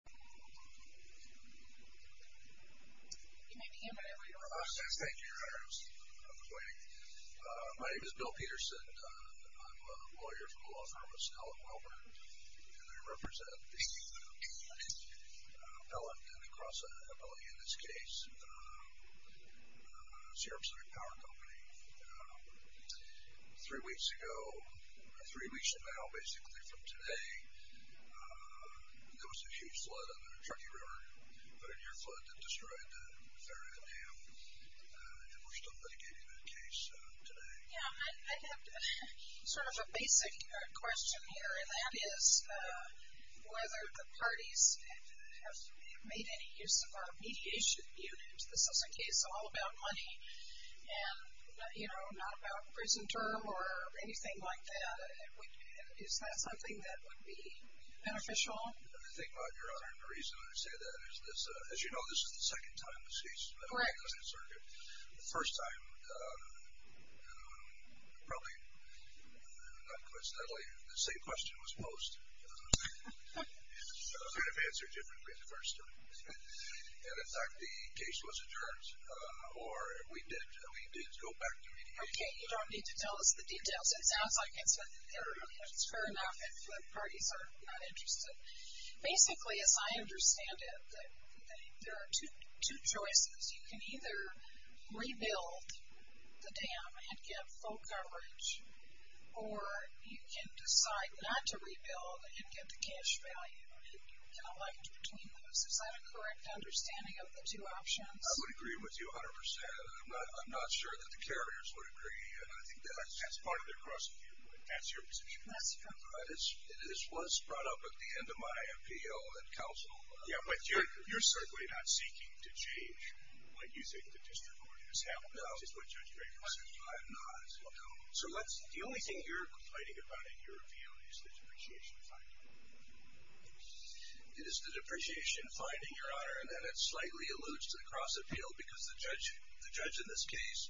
My name is Bill Peterson. I'm a lawyer for the law firm of Snell & Wilbur, and I represent an appellate and a cross-appellate in this case, Sherrop Center Power Company. Three weeks ago, three weeks now, basically, from today, there was a huge flood on the Truckee River, but in your flood, it destroyed the ferry dam, and we're still mitigating that case today. Yeah, I have sort of a basic question here, and that is whether the parties have made any use of a mediation unit. This is a case all about money, and, you know, not a prison term or anything like that. Is that something that would be beneficial? The thing about your honor, and the reason I say that is, as you know, this is the second time this case has been on the Senate circuit. The first time, probably, not coincidentally, the same question was posed. I was going to answer it differently the first time. And, in fact, the case was adjourned, or we did go back to mediation. Okay, you don't need to tell us the details. It sounds like it's fair enough if the parties are not interested. Basically, as I understand it, there are two choices. You can either rebuild the dam and get full coverage, or you can decide not to rebuild and get the cash value, and you can elect to maintain those. Is that a correct understanding of the two options? I would agree with you a hundred percent. I'm not sure that the carriers would agree, and I think that's part of their cross-examination. That's your position? That's correct. This was brought up at the end of my appeal at counsel. Yeah, but you're certainly not seeking to change what you think the district ordinance has. No. That's just what Judge Draper said. I'm not. So, the only thing you're It is the depreciation finding, Your Honor, and then it slightly alludes to the cross-appeal because the judge in this case,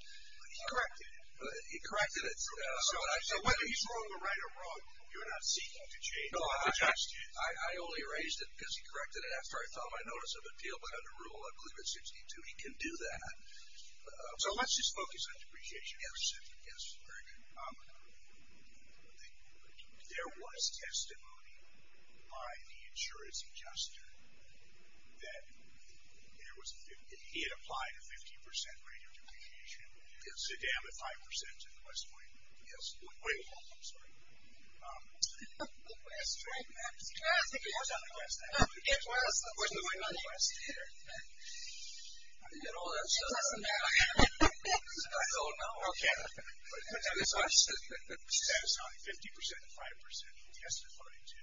he corrected it. So, whether he's wrong or right or wrong, you're not seeking to change what the text is. No, I only raised it because he corrected it after I filed my notice of appeal, but under Rule 162, he can do that. So, let's just focus on depreciation for a second. Yes, very good. There was testimony by the insurance adjuster that he had applied a 50% rate of depreciation to dam at 5% in West Point. Yes. Wait a moment. I'm sorry. I think it was on the West End. It was. It was on the West End. I don't know. I don't know. I don't care. It was on 50% and 5% he testified to.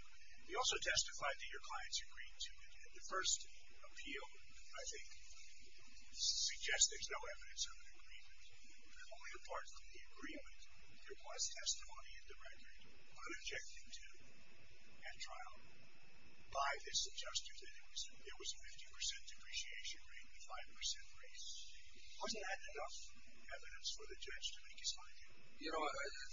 He also testified that your clients agreed to it. The first appeal, I think, suggests there's no evidence of an agreement. Only apart from the agreement, there was testimony in the record unobjecting to and trial by this adjuster that there was a 50% depreciation rate and a 5% rate. Wasn't that enough evidence for the judge to make his mind up? You know what, I just think he hit the nail on the head. That's the second time I've done it this morning. I want to make sure I hold the five minutes that everybody's got. It's like you put it in the language that I understand best. I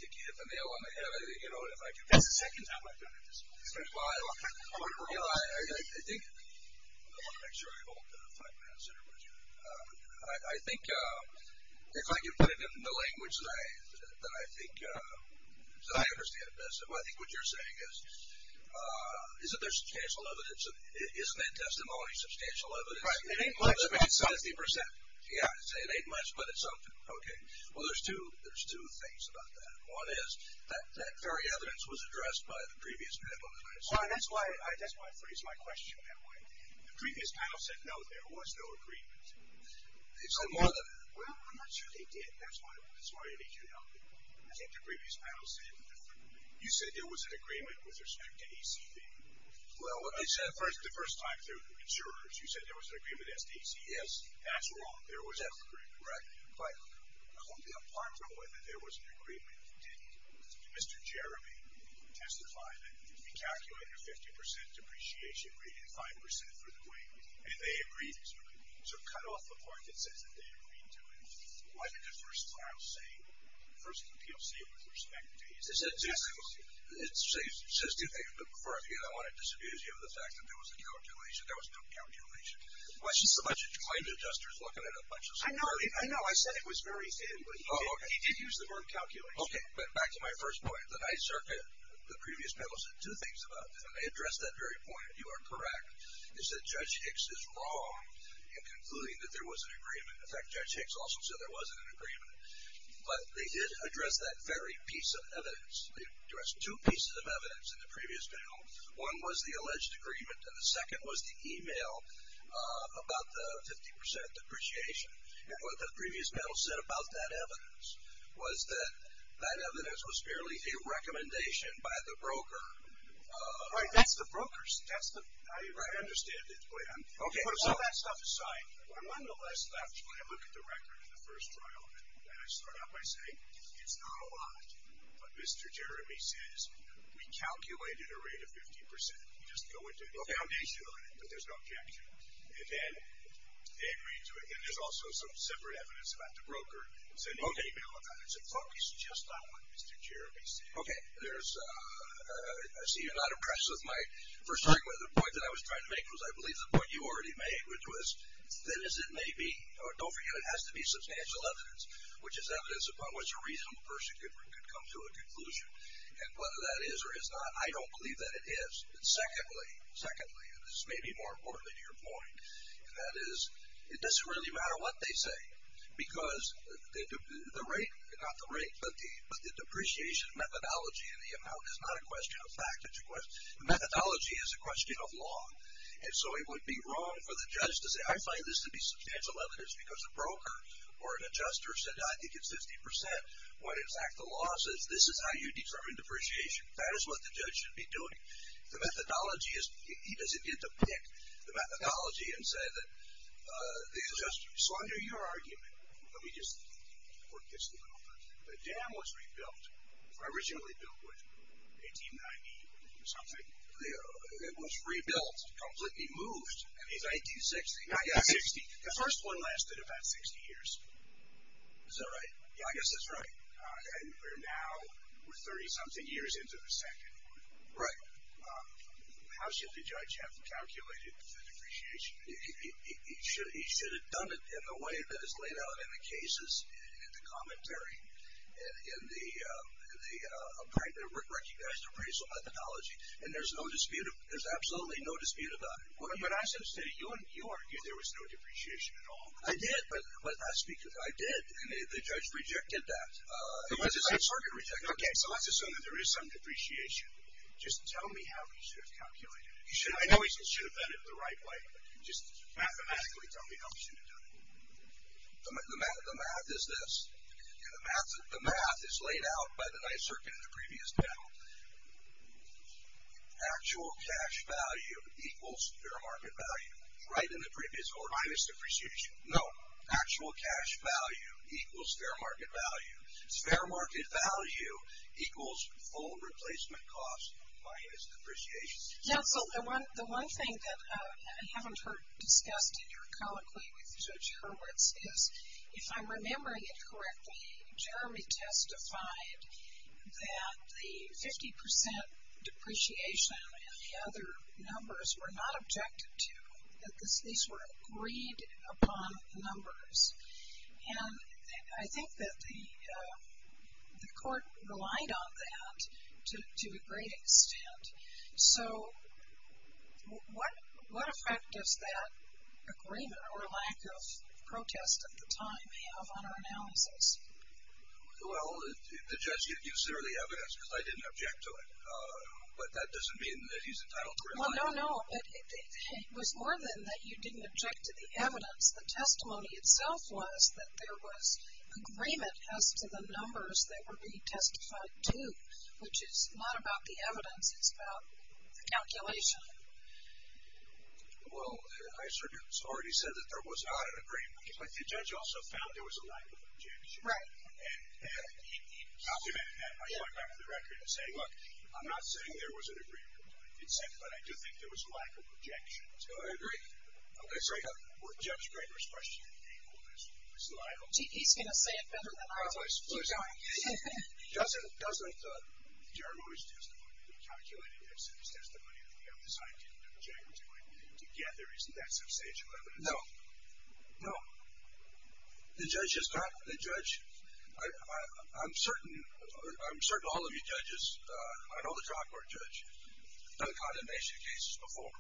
think what you're saying is that there's substantial evidence. Isn't that testimony substantial evidence? It ain't much, but it's something. Yeah, it ain't much, but it's something. Okay. Well, there's two things about that. One is that very evidence was addressed by the previous panel. That's why I phrased my question that way. The previous panel said, no, there was no agreement. Well, I'm not sure they did. That's why I need your help. I think the previous panel said differently. You said there was an agreement with respect to ACV. The first time through the insurers, you said there was an agreement as to ACV. Yes. That's wrong. There was no agreement. Right. Only apart from whether there was an agreement did Mr. Jeremy testify that he calculated a 50% depreciation rating, 5% for the weight, and they agreed to it. So cut off the part that says that they agreed to it. What did the first file say? First, the PLC with respect to ACV. It says two things. But before I begin, I want to disabuse you of the fact that there was no calculation. There was no calculation. Why should climate adjusters look at a bunch of stuff? I know. I know. I said it was very thin, but he did use the word calculation. Okay. But back to my first point. The Ninth Circuit, the previous panel said two things about this, and they addressed that very point, and you are correct. They said Judge Hicks is wrong in concluding that there was an agreement. In fact, Judge Hicks also said there wasn't an agreement. But they did address that very piece of evidence. They addressed two pieces of evidence in the previous panel. One was the alleged agreement, and the second was the email about the 50% depreciation. And what the previous panel said about that evidence was that that evidence was apparently a recommendation by the broker. Right. That's the broker's. I understand his plan. Okay. All that stuff aside, nonetheless, when I look at the record of the first trial, and I start out by saying it's not a lot, but Mr. Jeremy says we calculated a rate of 50%. You just go into the foundation of it, but there's no objection. And then they agreed to it. And there's also some separate evidence about the broker sending an email about it. It's focused just on what Mr. Jeremy said. Okay. I see you're not impressed with my first argument. The point that I was trying to make was I believe the point you already made, which was thin as it may be, don't forget it has to be substantial evidence, which is evidence upon which a reasonable person could come to a conclusion. And whether that is or is not, I don't believe that it is. And secondly, and this may be more important than your point, and that is it doesn't really matter what they say because the rate, not the rate, but the depreciation methodology and the amount is not a question of fact. The methodology is a question of law. And so it would be wrong for the judge to say, I find this to be substantial evidence because a broker or an adjuster said, I think it's 50% when, in fact, the law says this is how you determine depreciation. That is what the judge should be doing. The methodology is he doesn't get to pick the methodology and say that the dam was rebuilt, originally built in 1890 or something. It was rebuilt, completely moved in 1960. The first one lasted about 60 years. Is that right? Yeah, I guess that's right. And we're now, we're 30 something years into the second one. Right. How should the judge have calculated the depreciation? He should have done it in the way that is laid out in the cases. In the commentary. In the recognized appraisal methodology. And there's no dispute, there's absolutely no dispute about it. When I said it, you argued there was no depreciation at all. I did. I did. The judge rejected that. Okay, so let's assume that there is some depreciation. Just tell me how he should have calculated it. I know he should have done it the right way, but just mathematically tell me how he should have done it. The math is this. The math is laid out by the nice circuit in the previous panel. Actual cash value equals fair market value. Right in the previous order. Minus depreciation. No, actual cash value equals fair market value. Fair market value equals full replacement cost minus depreciation. Yeah, so the one thing that I haven't heard discussed in your colloquy with Judge Hurwitz is, if I'm remembering it correctly, Jeremy testified that the 50% depreciation and the other numbers were not objected to. That these were agreed upon numbers. And I think that the court relied on that to a great extent. So what effect does that agreement or lack of protest at the time have on our analysis? Well, the judge gives fairly evidence because I didn't object to it. But that doesn't mean that he's entitled to rely on it. Well, no, no. It was more than that you didn't object to the evidence. The testimony itself was that there was agreement as to the numbers that were being testified to, which is not about the evidence. It's about the calculation. Well, I sort of already said that there was not an agreement. But the judge also found there was a lack of objection. Right. And he complimented that by going back to the record and saying, look, I'm not saying there was an agreement. It said, but I do think there was a lack of objection. So I agree. Okay. So I have more of Judge Greger's question. He's going to say it better than I was. Keep going. Doesn't Jerome's testimony, the calculated evidence testimony that we have this I didn't object to it, together, isn't that substantial evidence? No. No. The judge is not the judge. I'm certain all of you judges, I know the trial court judge, done condemnation cases before.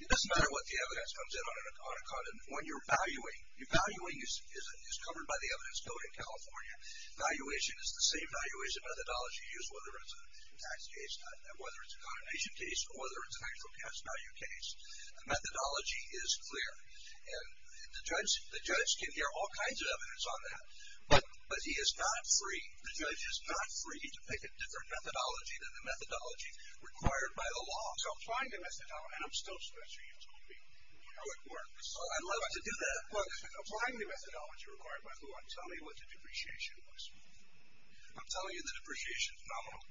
It doesn't matter what the evidence comes in on a condemn. When you're valuing, your valuing is covered by the evidence. It's still in California. Valuation is the same valuation methodology used whether it's a tax case, whether it's a condemnation case, or whether it's an actual tax value case. The methodology is clear. And the judge can hear all kinds of evidence on that. But he is not free, the judge is not free to pick a different methodology than the methodology required by the law. So applying the methodology, and I'm still sure you told me how it works. I'd love to do that. Well, applying the methodology required by the law, I'm telling you what the depreciation was. I'm telling you the depreciation is nominal.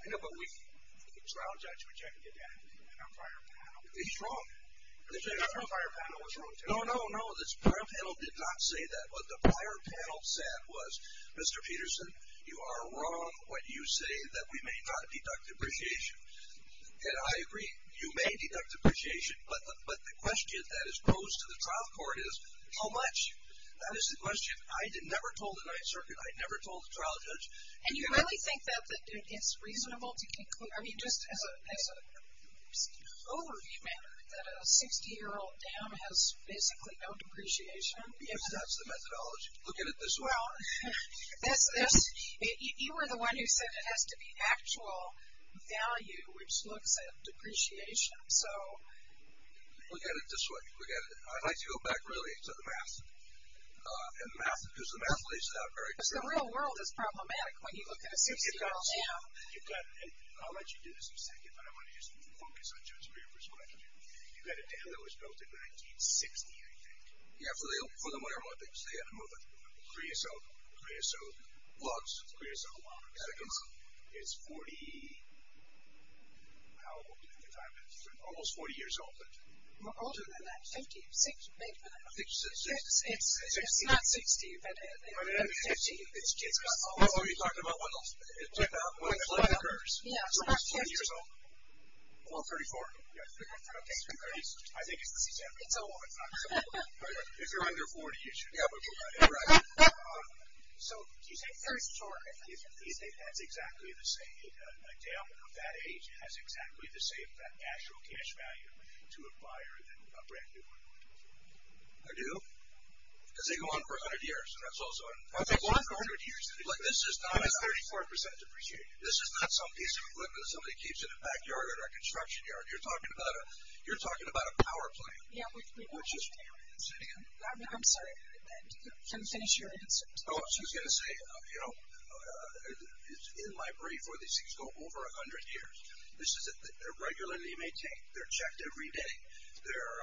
I know, but the trial judge rejected that in our prior panel. He's wrong. The prior panel was wrong, too. No, no, no. The prior panel did not say that. What the prior panel said was, Mr. Peterson, you are wrong when you say that we may not deduct depreciation. And I agree, you may deduct depreciation. But the question that is posed to the trial court is, how much? That is the question. I never told the Ninth Circuit, I never told the trial judge. And you really think that it's reasonable to conclude, I mean just as an overview matter, that a 60-year-old dam has basically no depreciation? If that's the methodology. Look at it this way. Well, you were the one who said it has to be actual value, which looks at depreciation. Look at it this way. I'd like to go back really to the math, because the math lays it out very clearly. The real world is problematic when you look at a 60-year-old dam. I'll let you do this in a second, but I want to just focus on Judge Weber's question. You've got a dam that was built in 1960, I think. Yeah, for the whatever month it was, they had to move the creosote logs. Creosote logs. It's 40, how old do you think the dam is? Almost 40 years old. Older than that, 50, 60, maybe. I think she said 60. It's not 60, but it's 50. Are you talking about when the flood occurs, when it's 40 years old? Well, 34. Okay. I think it's the season. It's over. If you're under 40, you should be able to do that. Right. So do you think a dam of that age has exactly the same actual cash value to a buyer than a brand-new one? I do. Because they go on for 100 years. That's also 100 years. That's 34% depreciated. This is not some piece of equipment somebody keeps in a backyard or a construction yard. You're talking about a power plant. Say it again. I'm sorry. Can you finish your answer? Oh, she was going to say, you know, in my brief where these things go, over 100 years. This is it. They're regularly maintained. They're checked every day. They're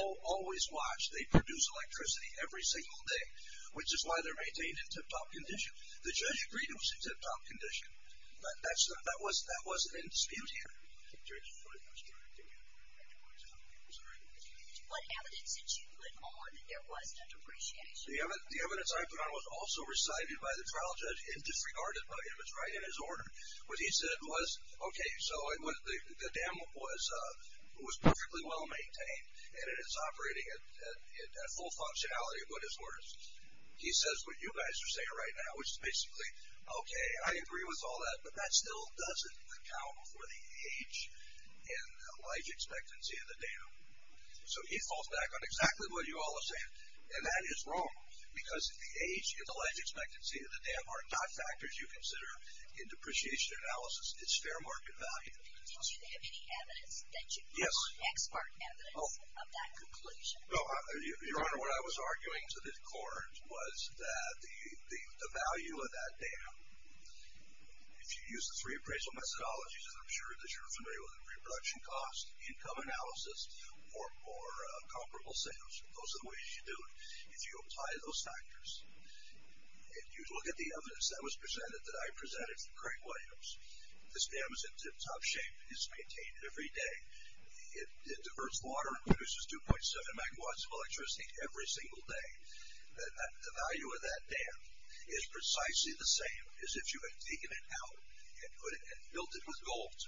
always watched. They produce electricity every single day, which is why they're maintained in tip-top condition. The judge agreed it was in tip-top condition. But that wasn't in dispute here. I'm sorry. What evidence did you put on that there was no depreciation? The evidence I put on was also recited by the trial judge and disregarded by him. It's right in his order. What he said was, okay, so the dam was perfectly well-maintained and it's operating at full functionality, but it's worse. He says what you guys are saying right now, which is basically, okay, I agree with all that, but that still doesn't account for the age and life expectancy of the dam. So he falls back on exactly what you all are saying, and that is wrong because the age and the life expectancy of the dam are not factors you consider in depreciation analysis. It's fair market value. Did you have any evidence that you put on expert evidence of that conclusion? Your Honor, what I was arguing to the court was that the value of that dam, if you use the three appraisal methodologies, as I'm sure that you're familiar with, reproduction cost, income analysis, or comparable sales, those are the ways you do it, if you apply those factors. If you look at the evidence that was presented, that I presented for Craig Williams, this dam is in tip-top shape. It's maintained every day. It diverts water and produces 2.7 megawatts of electricity every single day. The value of that dam is precisely the same as if you had taken it out and built it with gold.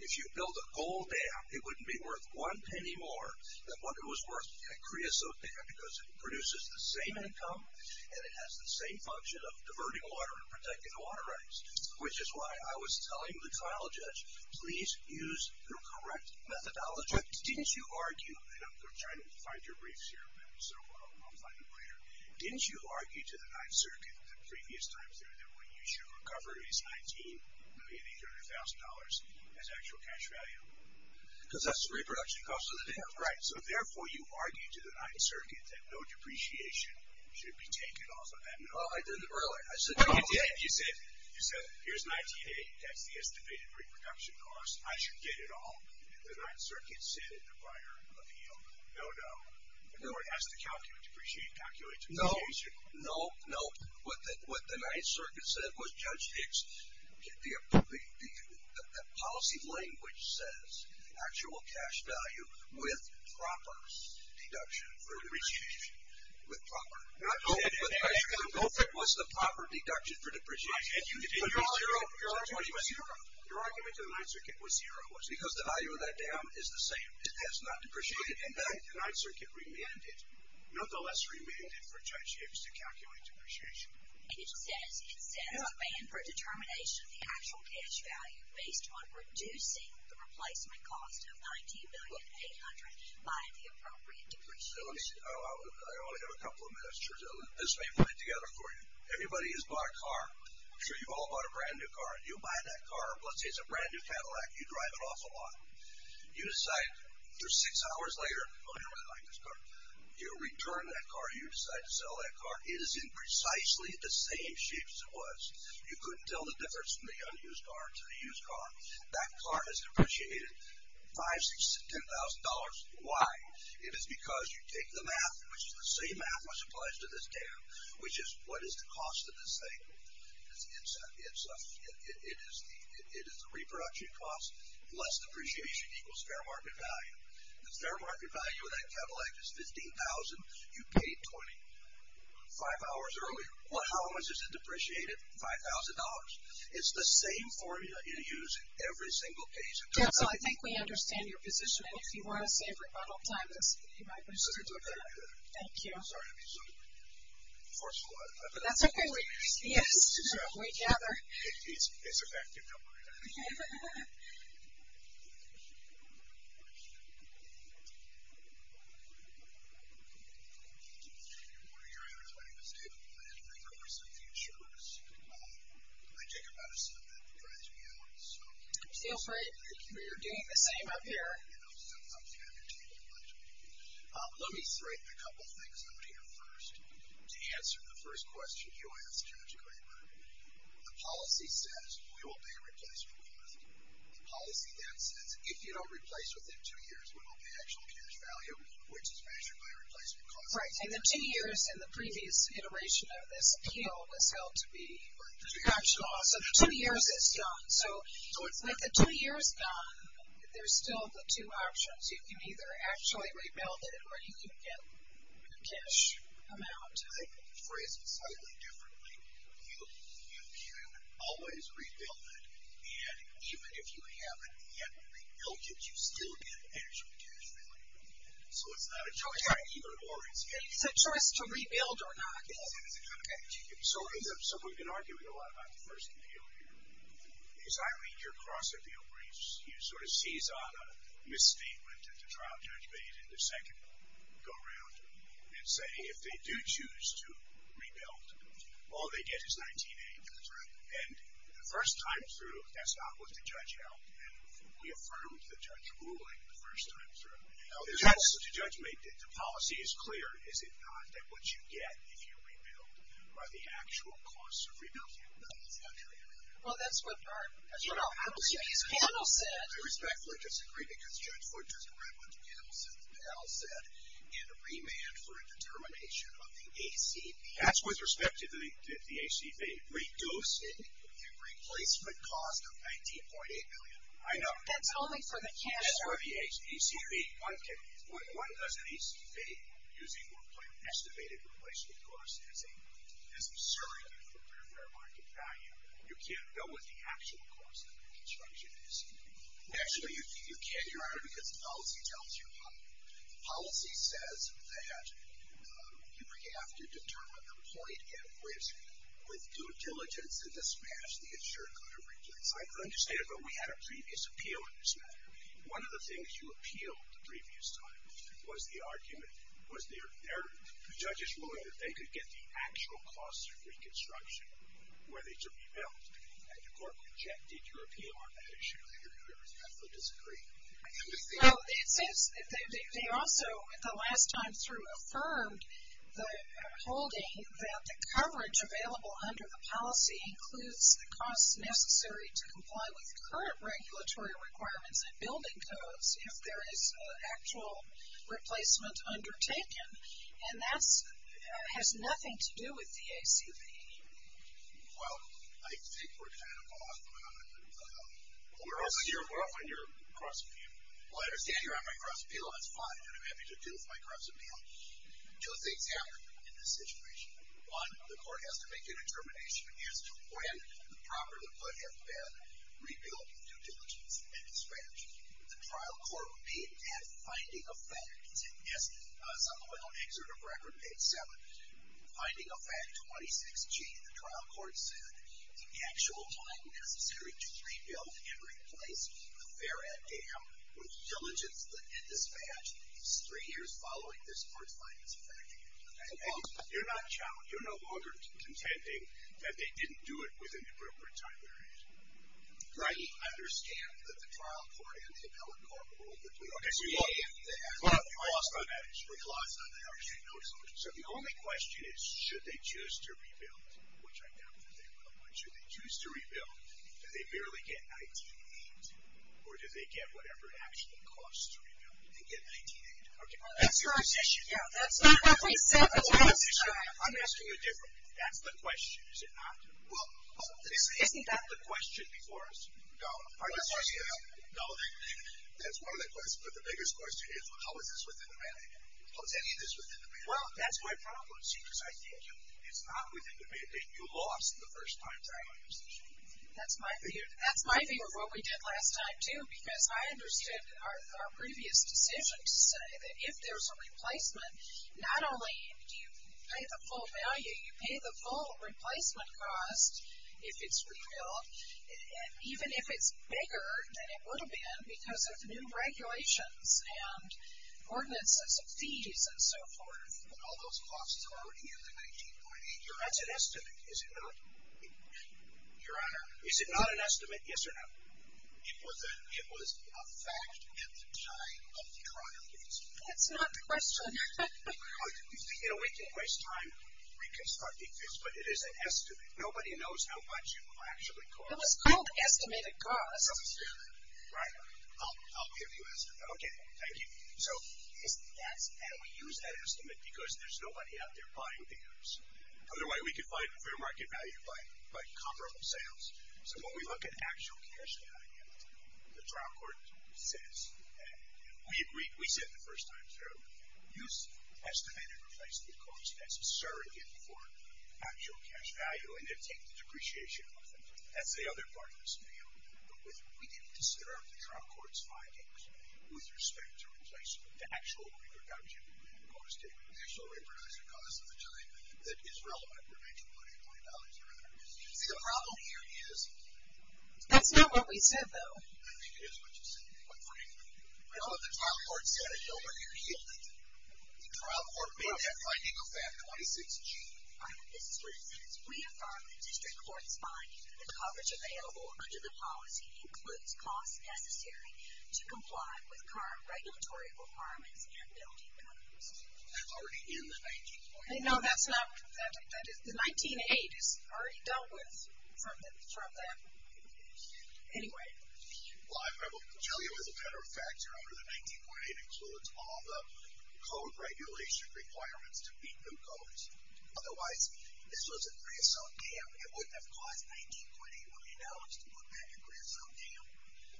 If you built a gold dam, it wouldn't be worth one penny more than what it was worth in a creosote dam because it produces the same income and it has the same function of diverting water and protecting the water rights, which is why I was telling the trial judge, please use the correct methodology. Didn't you argue, and I'm trying to find your briefs here, so I'll find them later. Didn't you argue to the Ninth Circuit the previous time through that what you should recover is $19,800,000 as actual cash value? Because that's the reproduction cost of the dam. Right, so therefore you argued to the Ninth Circuit that no depreciation should be taken off of that. No, I did it earlier. You said, here's $19,800. That's the estimated reproduction cost. I should get it all. And the Ninth Circuit said in a prior appeal, no, no. Or it has to calculate depreciation. No, no, no. What the Ninth Circuit said was, Judge Hicks, the policy language says actual cash value with proper deduction for depreciation. With proper. Not only with depreciation, both it was the proper deduction for depreciation. Your argument to the Ninth Circuit was zero. Because the value of that dam is the same. It has not depreciated. In fact, the Ninth Circuit remanded, nonetheless remanded for Judge Hicks to calculate depreciation. It says a ban for determination of the actual cash value based on reducing the replacement cost of $19,800,000 by the appropriate depreciation. I only have a couple of minutes. This may put it together for you. Everybody has bought a car. I'm sure you've all bought a brand-new car. You buy that car. Let's say it's a brand-new Cadillac. You drive it off a lot. You decide six hours later, oh, you don't really like this car. You return that car. You decide to sell that car. It is in precisely the same shape as it was. You couldn't tell the difference from the unused car to the used car. That car has depreciated $5,000, $6,000, $10,000. Why? It is because you take the math, which is the same math which applies to this dam, which is what is the cost of this thing. It is the reproduction cost. Less depreciation equals fair market value. The fair market value of that Cadillac is $15,000. You paid $20,000 five hours earlier. Well, how much is it depreciated? $5,000. It's the same formula you use in every single case. Council, I think we understand your position, that's what you might want to do. Thank you. I'm sorry to be so forceful. That's okay. Yes. We gather. It's effective. Don't worry about it. Okay. Good morning, your Honor. My name is David Blanton. I cover some futures. I take a medicine that drives me out. Feel free. We're doing the same up here. I'm David Blanton. Let me threaten a couple of things out here first. To answer the first question you asked, Judge Graber, the policy says we will pay a replacement cost. The policy then says if you don't replace within two years, we will pay actual cash value, which is measured by a replacement cost. Right. And the two years in the previous iteration of this appeal was held to be production loss. So the two years is gone. So it's like the two years is gone. There's still the two options. You can either actually rebuild it or you can get cash amount. I think phrased slightly differently. You can always rebuild it. And even if you haven't yet rebuilt it, you still get actual cash value. So it's not a choice. It's a choice to rebuild or not. So we've been arguing a lot about the first appeal here. As I read your cross-appeal briefs, you sort of seize on a misstatement that the trial judge made in the second go-round and say if they do choose to rebuild, all they get is $19,800. That's right. And the first time through, that's not what the judge held. We affirmed the judge ruling the first time through. The judge made the policy as clear. Is it not that what you get if you rebuild are the actual costs of rebuilding? Well, that's what our panel said. I respectfully disagree because Judge Wood just read what the panel said. The panel said in remand for a determination of the ACB. That's with respect to the ACB. Reduce the replacement cost of $19.8 million. I know. That's for the ACB. Okay. Why doesn't ACB, using what I've estimated, replace the cost as a surrogate for fair market value? You can't go with the actual cost of the construction, is he? Actually, you can, Your Honor, because the policy tells you how. The policy says that you would have to determine the point at which, with due diligence and dispatch, the insurer could have replaced. I understand, but we had a previous appeal in this matter. One of the things you appealed the previous time was the argument, was their judges ruling that they could get the actual costs of reconstruction where they should be built. And your court rejected your appeal on that issue. I respectfully disagree. Well, it seems they also, the last time through, affirmed the holding that the coverage available under the policy includes the costs necessary to comply with current regulatory requirements and building codes if there is an actual replacement undertaken. And that has nothing to do with the ACB. Well, I think we're kind of off. We're off on your cross-appeal. Well, I understand you're on my cross-appeal. That's fine. What do you want me to do with my cross-appeal? Two things happen in this situation. One, the court has to make a determination as to when the property would have been rebuilt with due diligence and dispatch. The trial court would be at finding a fact. Yes, it's on the well-exerted record, page 7. Finding a fact, 26G. The trial court said the actual time necessary to rebuild and replace the Farad Dam with diligence and dispatch is three years following this court's finding of fact. You're no longer contending that they didn't do it within the appropriate time period. Right. I understand that the trial court and the appellate court ruled that we lost on that. We lost on that. So the only question is, should they choose to rebuild, which I doubt that they will. Should they choose to rebuild? Do they barely get $19,800? Or do they get whatever it actually costs to rebuild and get $19,800? That's your position. I'm asking you differently. That's the question, is it not? Isn't that the question before us? No. That's one of the questions, but the biggest question is, how is this within the mandate? How is any of this within the mandate? Well, that's my problem, see, because I think it's not within the mandate. You lost the first time. That's my view of what we did last time, too, because I understood our previous decision to say that if there's a replacement, not only do you pay the full value, you pay the full replacement cost if it's rebuilt, and even if it's bigger than it would have been because of new regulations and ordinances of fees and so forth. All those costs are already in the $19,800. That's an estimate, is it not? Your Honor. Is it not an estimate, yes or no? It was a fact at the time of the trial. That's not the question. You know, we can waste time reconstructing this, but it is an estimate. Nobody knows how much you actually cost. It was called estimated cost. Right. I'll give you an estimate. Okay, thank you. And we use that estimate because there's nobody out there buying beers. Otherwise we could find fair market value by comparable sales. So when we look at actual cash value, the trial court says, and we agreed, we said the first time through, use estimated replacement cost as a surrogate for actual cash value, and then take the depreciation off of it. That's the other part of the scenario. But we didn't consider the trial court's findings with respect to replacement, the actual reproduction cost. The actual reproduction cost of the time that is relevant, See, the problem here is. That's not what we said, though. I think it is what you said. I don't know what the trial court said. I don't know what you're yielding. The trial court made that finding a fact, 26G. We affirm the district court's finding that the coverage available under the policy includes costs necessary to comply with current regulatory requirements and building codes. That's already in the 19.1. No, that's not. The 19.8 is already dealt with from that. Anyway. Well, I will tell you as a matter of fact, under the 19.8 includes all the code regulation requirements to meet new codes. Otherwise, this was a creosote dam. It wouldn't have caused 19.8 million dollars to put back a creosote dam.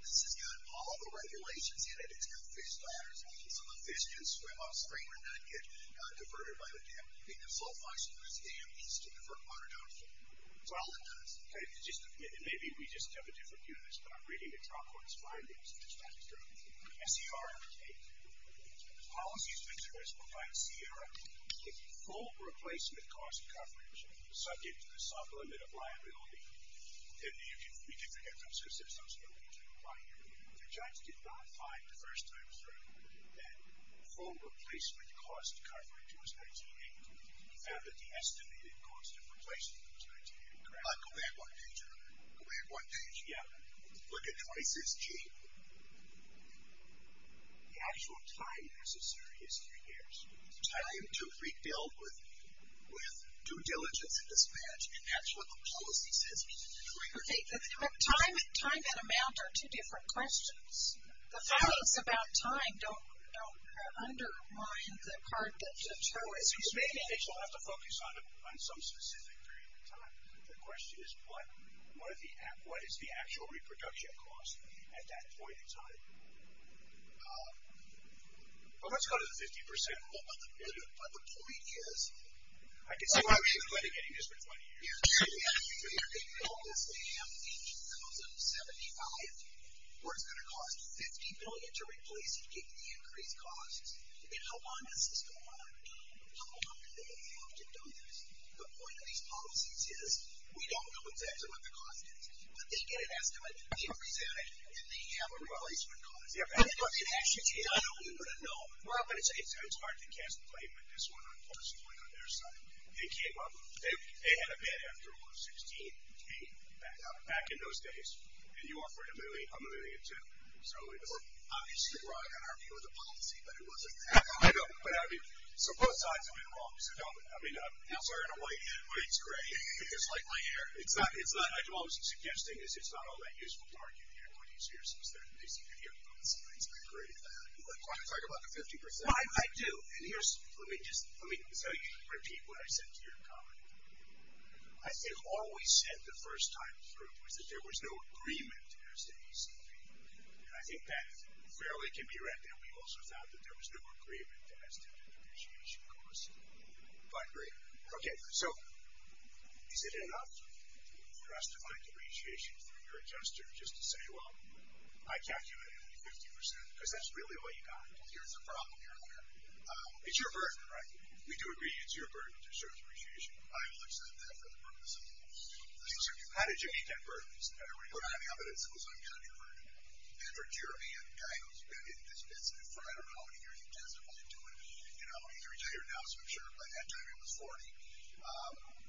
This has got all the regulations in it. It's got fish ladders, so the fish can swim upstream and not get diverted by the dam. The sulfoxane in this dam needs to divert water downstream. Well, it does. Maybe we just have a different view of this, but I'm reading the trial court's findings. It's not true. SCR 8. Policies of interest provide CR 8, full replacement cost coverage subject to the sublimit of liability. And you can read it again. The judge did not find the first time through that full replacement cost coverage was 19.8. He found that the estimated cost of replacement was 19.8. Correct? Go back one page. Go back one page. Yeah. Look at twice as cheap. The actual time necessary is three years. Time to rebuild with due diligence and dispatch. And that's what the policy says. Okay, but time and amount are two different questions. The findings about time don't undermine the part that Joe is making. You'll have to focus on some specific period of time. The question is what is the actual reproduction cost at that point in time? Well, let's go to the 50%. But the point is. I can see why we should be mitigating this for 20 years. They built this dam in 2075 where it's going to cost 50 billion to replace and get the increased costs. And how long does this go on? How long do they have to do this? The point of these policies is we don't know exactly what the cost is, but they get an estimate, they present it, and they have a replacement cost. And if it actually did, I don't even know. It's hard to cast blame at this one, unfortunately, on their side. They had a bid after 2016, back in those days, and you offered a million, I'm a million too. So it's obviously wrong in our view of the policy, but it wasn't that hard. So both sides have been wrong. I'm sorry to weigh in, but it's gray. It's like my hair. All I'm suggesting is it's not all that useful to argue here. They seem to hear both sides. I agree with that. You want to talk about the 50%? I do. Let me just tell you to repeat what I said to your colleague. I have always said the first time through was that there was no agreement as to ECP, and I think that fairly can be read there. We also found that there was no agreement as to the depreciation cost. But great. Okay. So is it enough for us to find depreciation through your adjuster just to say, well, I calculated 50%, because that's really what you got. Well, here's the problem here, Larry. It's your burden, right? We do agree it's your burden to show depreciation. I will accept that for the purpose of this. How did you meet that burden? We're not having evidence that was on your burden. Patrick Jeremy, a guy who's been in this business for I don't know how many years, he testified to it. He's retired now, so I'm sure by that time he was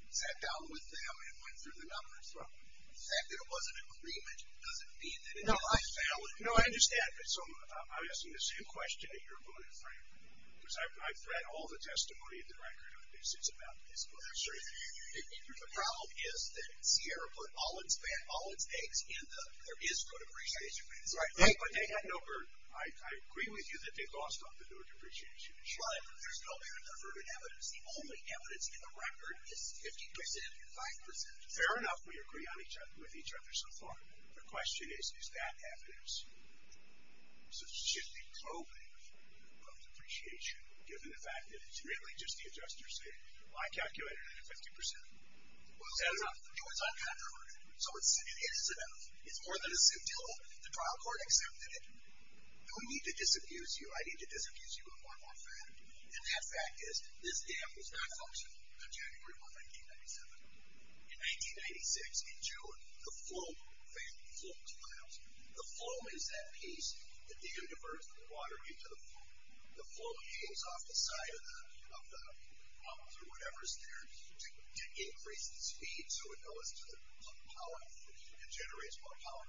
40, sat down with them and went through the numbers. The fact that it wasn't an agreement doesn't mean that it isn't valid. No, I understand. So I'm asking the same question that you're putting, Frank, because I've read all the testimony in the record on this. It's about this burden. Sure. The problem is that Sierra put all its eggs in the there is good appreciation for this. Right. But they had no burden. I agree with you that they lost on the no depreciation issue. Right. There's no better number of evidence. The only evidence in the record is 50% and 5%. Fair enough. We agree with each other so far. The question is, is that evidence? So it should be probing of depreciation, given the fact that it's really just the adjuster saying, well, I calculated it at 50%. Fair enough. It was uncontroverted. So it is enough. It's more than a suit till the trial court accepted it. No need to disabuse you. I need to disabuse you of one more fact, and that fact is this dam was not functional until January of 1997. In 1996, in June, the flow failed, the flow is that piece that the universe, the water into the flow, the flow changes off the side of the, of the problems or whatever is there to increase the speed. So it goes to the power and generates more power,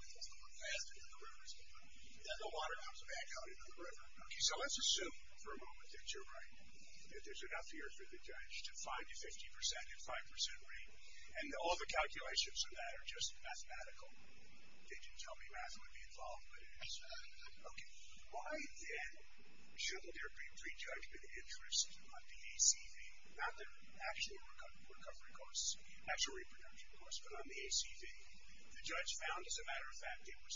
faster than the rivers, but then the water comes back out into the river. Okay. So let's assume for a moment that you're right, that there's enough here for the judge to five to 50% and 5% rate. And all the calculations of that are just mathematical. They didn't tell me math would be involved, but it is. Okay. Why then shouldn't there be prejudgment interest on the ACV, not their actual recovery costs, actual reproduction costs, but on the ACV, the judge found as a matter of fact, it was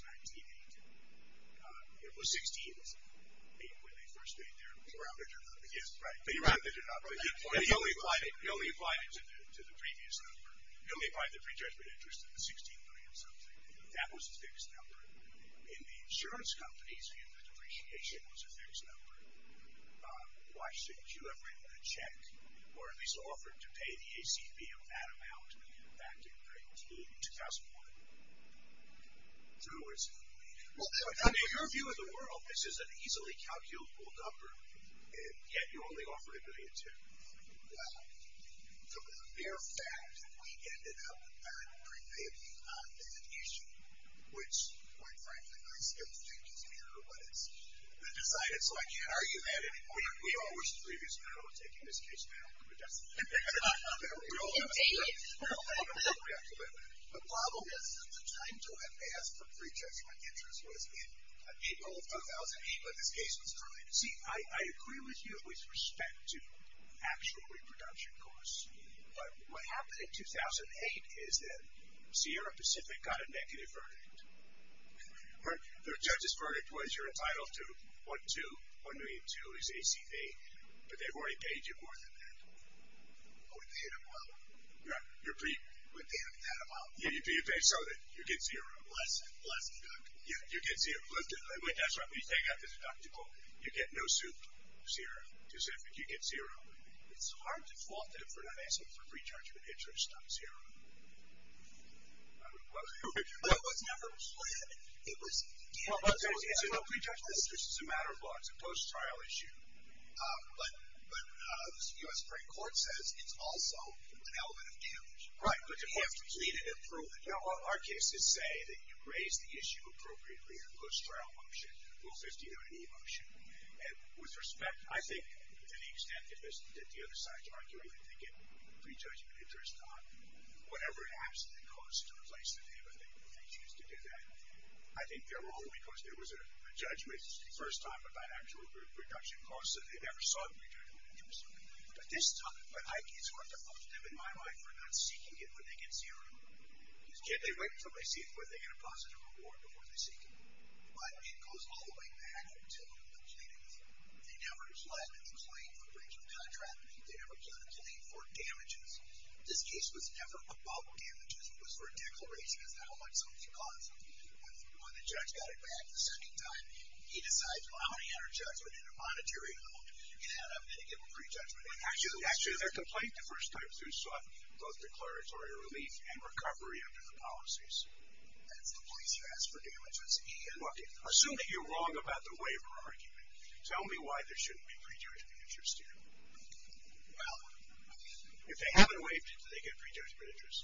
1980. It was 16th. I mean, when they first made their. They rounded it up. Right. They rounded it up. He only applied it. He only applied it to the, to the previous number. He only applied the prejudgment interest of the 16 million something. That was a fixed number in the insurance companies. The depreciation was a fixed number. Why shouldn't you have written a check or at least offered to pay the ACV of that amount back in 1980, 2001. So in other words, in your view of the world, this is an easily calculable number. Yet you only offered a million two. Well, the mere fact that we ended up at prepayment, there's an issue, which quite frankly, I still think is an error of what has been decided. So I can't argue that anymore. We all wish the previous panel had taken this case down. But that's. The problem is that the time to have asked for prejudgment interest was in April of 2008, but this case was currently. See, I agree with you with respect to actual reproduction costs, but what happened in 2008 is that Sierra Pacific got a negative verdict. The judge's verdict was you're entitled to one, two, one million two is ACV, but they've already paid you more than that. Oh, you're pretty good. You pay so that you get zero. Yeah, you get zero. Wait, that's right. If you take out the deductible, you get no soup. Sierra Pacific, you get zero. It's hard to fault them for not asking for prejudgment interest. Not zero. It was never planned. It was. This is a matter of law. It's a post trial issue. But, but, uh, the US Supreme Court says it's also an element of damage. Right. But you have to plead it and prove it. You know, our cases say that you raise the issue appropriately in a post trial motion, rule 50 to any motion. And with respect, I think to the extent that this, that the other side's arguing that they get prejudgment interest on whatever it has to cost to replace the payment, they choose to do that. I think they're wrong because there was a judgment first time about actual group reduction costs that they never saw the return of interest. But this time, but I, it's hard to fault them in my life for not seeking it when they get zero. Can't they wait until they see it where they get a positive reward before they seek it. But it goes all the way back to the pleadings. They never pledged a claim for breach of contract. They never pledged a claim for damages. This case was never about damages. It was for a declaration as to how much something costs. When, when the judge got it back the sending time, he decides, well, how many had a judgment in a monetary note and had a, and again, a prejudgment. Actually, the complaint the first time through sought both declaratory relief and recovery under the policies. That's the police. You ask for damages. Okay. Assume that you're wrong about the waiver argument. Tell me why there shouldn't be prejudgment interest in it. Well, if they haven't waived it, they get prejudgment interest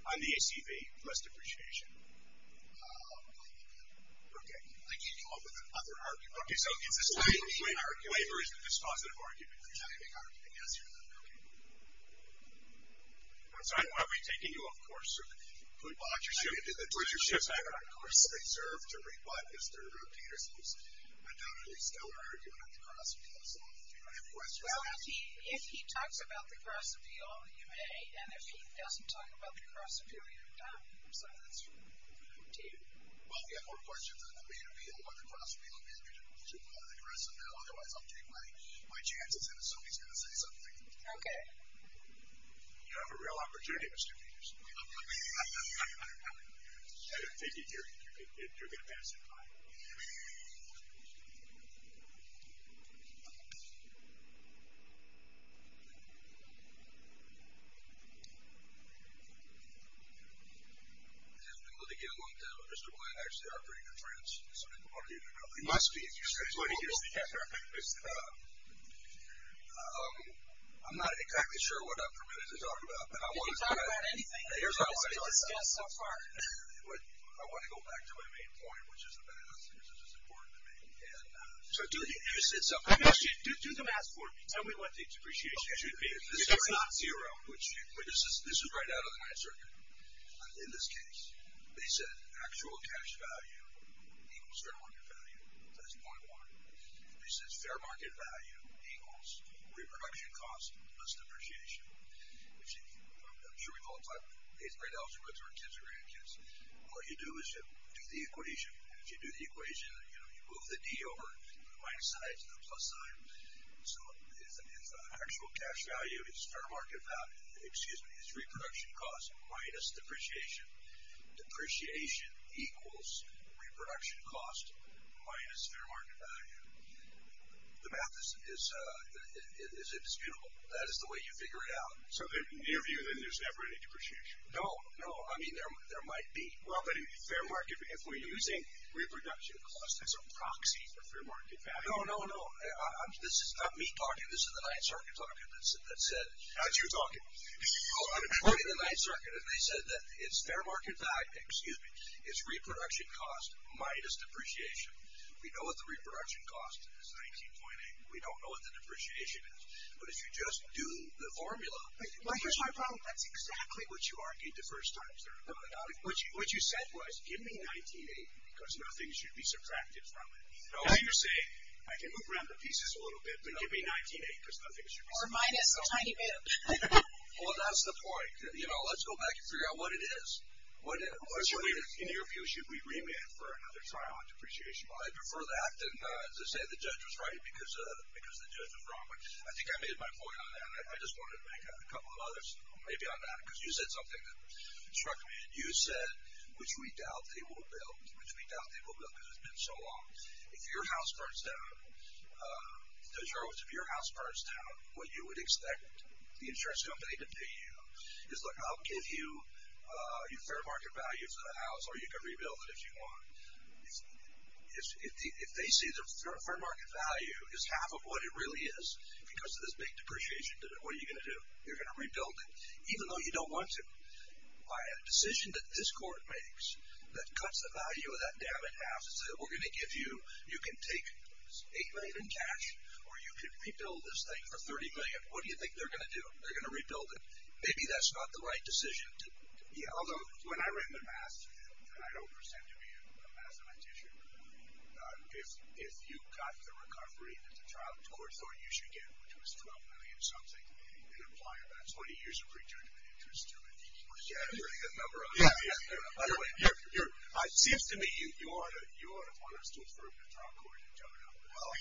on the ACV. Less depreciation. Um, okay. I can't come up with another argument. Okay. So it's this time, waiver is the dispositive argument. Yes. Okay. I'm sorry. Why are we taking you? Of course. They serve to rebut. Mr. Peters, who's a doubly stellar argument on the cross appeal. So if you have questions. Well, if he, if he talks about the cross appeal, you may, and if he doesn't talk about the cross appeal, you're done. So that's. Well, we have more questions on the main appeal or the cross appeal. I'm going to put you on the aggressive now. Otherwise I'll take my, my chances and assume he's going to say something. Okay. You have a real opportunity, Mr. Peters. I didn't think you'd hear it. You're going to pass it by. Let me get along with that. Mr. Glenn, I actually operate in France. Some people already know. It must be. I'm not exactly sure what I'm permitted to talk about. I want to go back to my main point, which is the math, which is as important to me. And so do you, you said something. Do the math for me. Tell me what the depreciation should be. This is not zero, which this is, this is right out of the ninth circuit. In this case, they said actual cash value equals fair market value. That's point one. He says fair market value equals reproduction costs plus depreciation, which I'm sure we've all talked about. It's great. Algebra to our kids or grandkids. What you do is you do the equation. And if you do the equation, you know, you move the D over the minus sign to the plus sign. So it's an actual cash value. It's fair market value. Excuse me. It's reproduction costs minus depreciation. Depreciation equals reproduction costs minus fair market value. The math is, is, is indisputable. That is the way you figure it out. So the interview, then there's never any depreciation. No, no. I mean, there, there might be fair market. If we're using reproduction costs as a proxy for fair market value. No, no, no. I'm, this is not me talking. This is the ninth circuit talking. That's it. That's it. How'd you talk? Oh, I'm pointing the ninth circuit. And they said that it's fair market value. Excuse me. It's reproduction costs minus depreciation. We know what the reproduction cost is. 19.8. We don't know what the depreciation is. But if you just do the formula. Well, here's my problem. That's exactly what you argued the first time, sir. No, no. What you, what you said was, give me 19.8 because nothing should be subtracted from it. No, you're saying, I can move around the pieces a little bit, but give me 19.8 because nothing should be subtracted from it. Or minus a tiny bit. Well, that's the point. You know, let's go back and figure out what it is. What, what should we, in your view, should we remit for another trial on depreciation? Well, I prefer that than to say the judge was right because, because the judge was wrong. I think I made my point on that. I just wanted to make a couple of others. Maybe on that. Cause you said something that struck me and you said, which we doubt they will build, which we doubt they will build. Cause it's been so long. If your house burns down, uh, the charge of your house burns down, what you would expect the insurance company to pay you is like, I'll give you, uh, your fair market value for the house. Or you can rebuild it if you want. they're going to say, well, you know what? I don't care. I don't care. I don't care. I don't care. I don't care. If you can't afford it. Because of this big depreciation. What are you going to do? You're going to rebuild it. Even though you don't want to buy a decision that this court makes that cuts the value of that dam in half. It said, we're going to give you, you can take $8 million in cash, or you could rebuild this thing for $30 million. What do you think they're going to do? They're going to rebuild it. Maybe that's not the right decision. So yeah, although when I ran the math, I don't pretend to be a mathematics teacher. If, if you got the recovery that the child took, the court thought you should get, which was $12 million something, and apply about 20 years of return to the interest to it. Yeah, a really good number of them. Yeah, yeah. By the way, you're, it seems to me you ought to, you ought to want us to approve the trial court and tone it up. Well.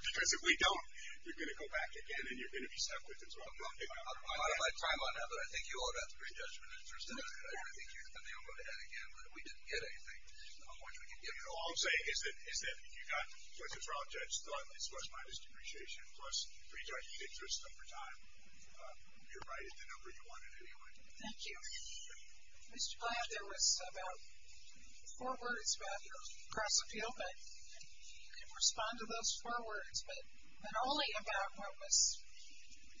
Because if we don't, you're going to go back again and you're going to be stuck with this one. I don't mind time on that, but I think you ought to have three judgment interests in it. I don't think you're going to be able to head again, but if we didn't get anything, how much we can give it all. All I'm saying is that, is that if you got, what the trial judge thought is plus minus depreciation, plus three judgment interests over time, uh, you're right at the number you wanted anyway. Thank you. Mr. Blatt, there was about four words about your cross-appeal, but you can respond to those four words, but not only about what was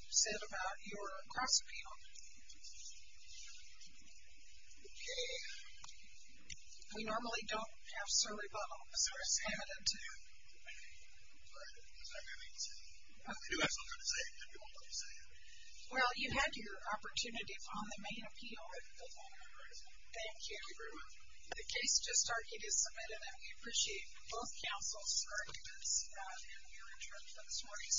said about your cross-appeal. Okay. We normally don't have survey bubble. I'm sorry. I was limited to. I'm sorry. I was not going to be able to say that. Okay. You do have something to say, but you won't be able to say it. Well, you had your opportunity on the main appeal. Thank you. Thank you very much. The case just started. It is submitted, and we appreciate both counsel's arguments, uh, and your interest in this morning's session.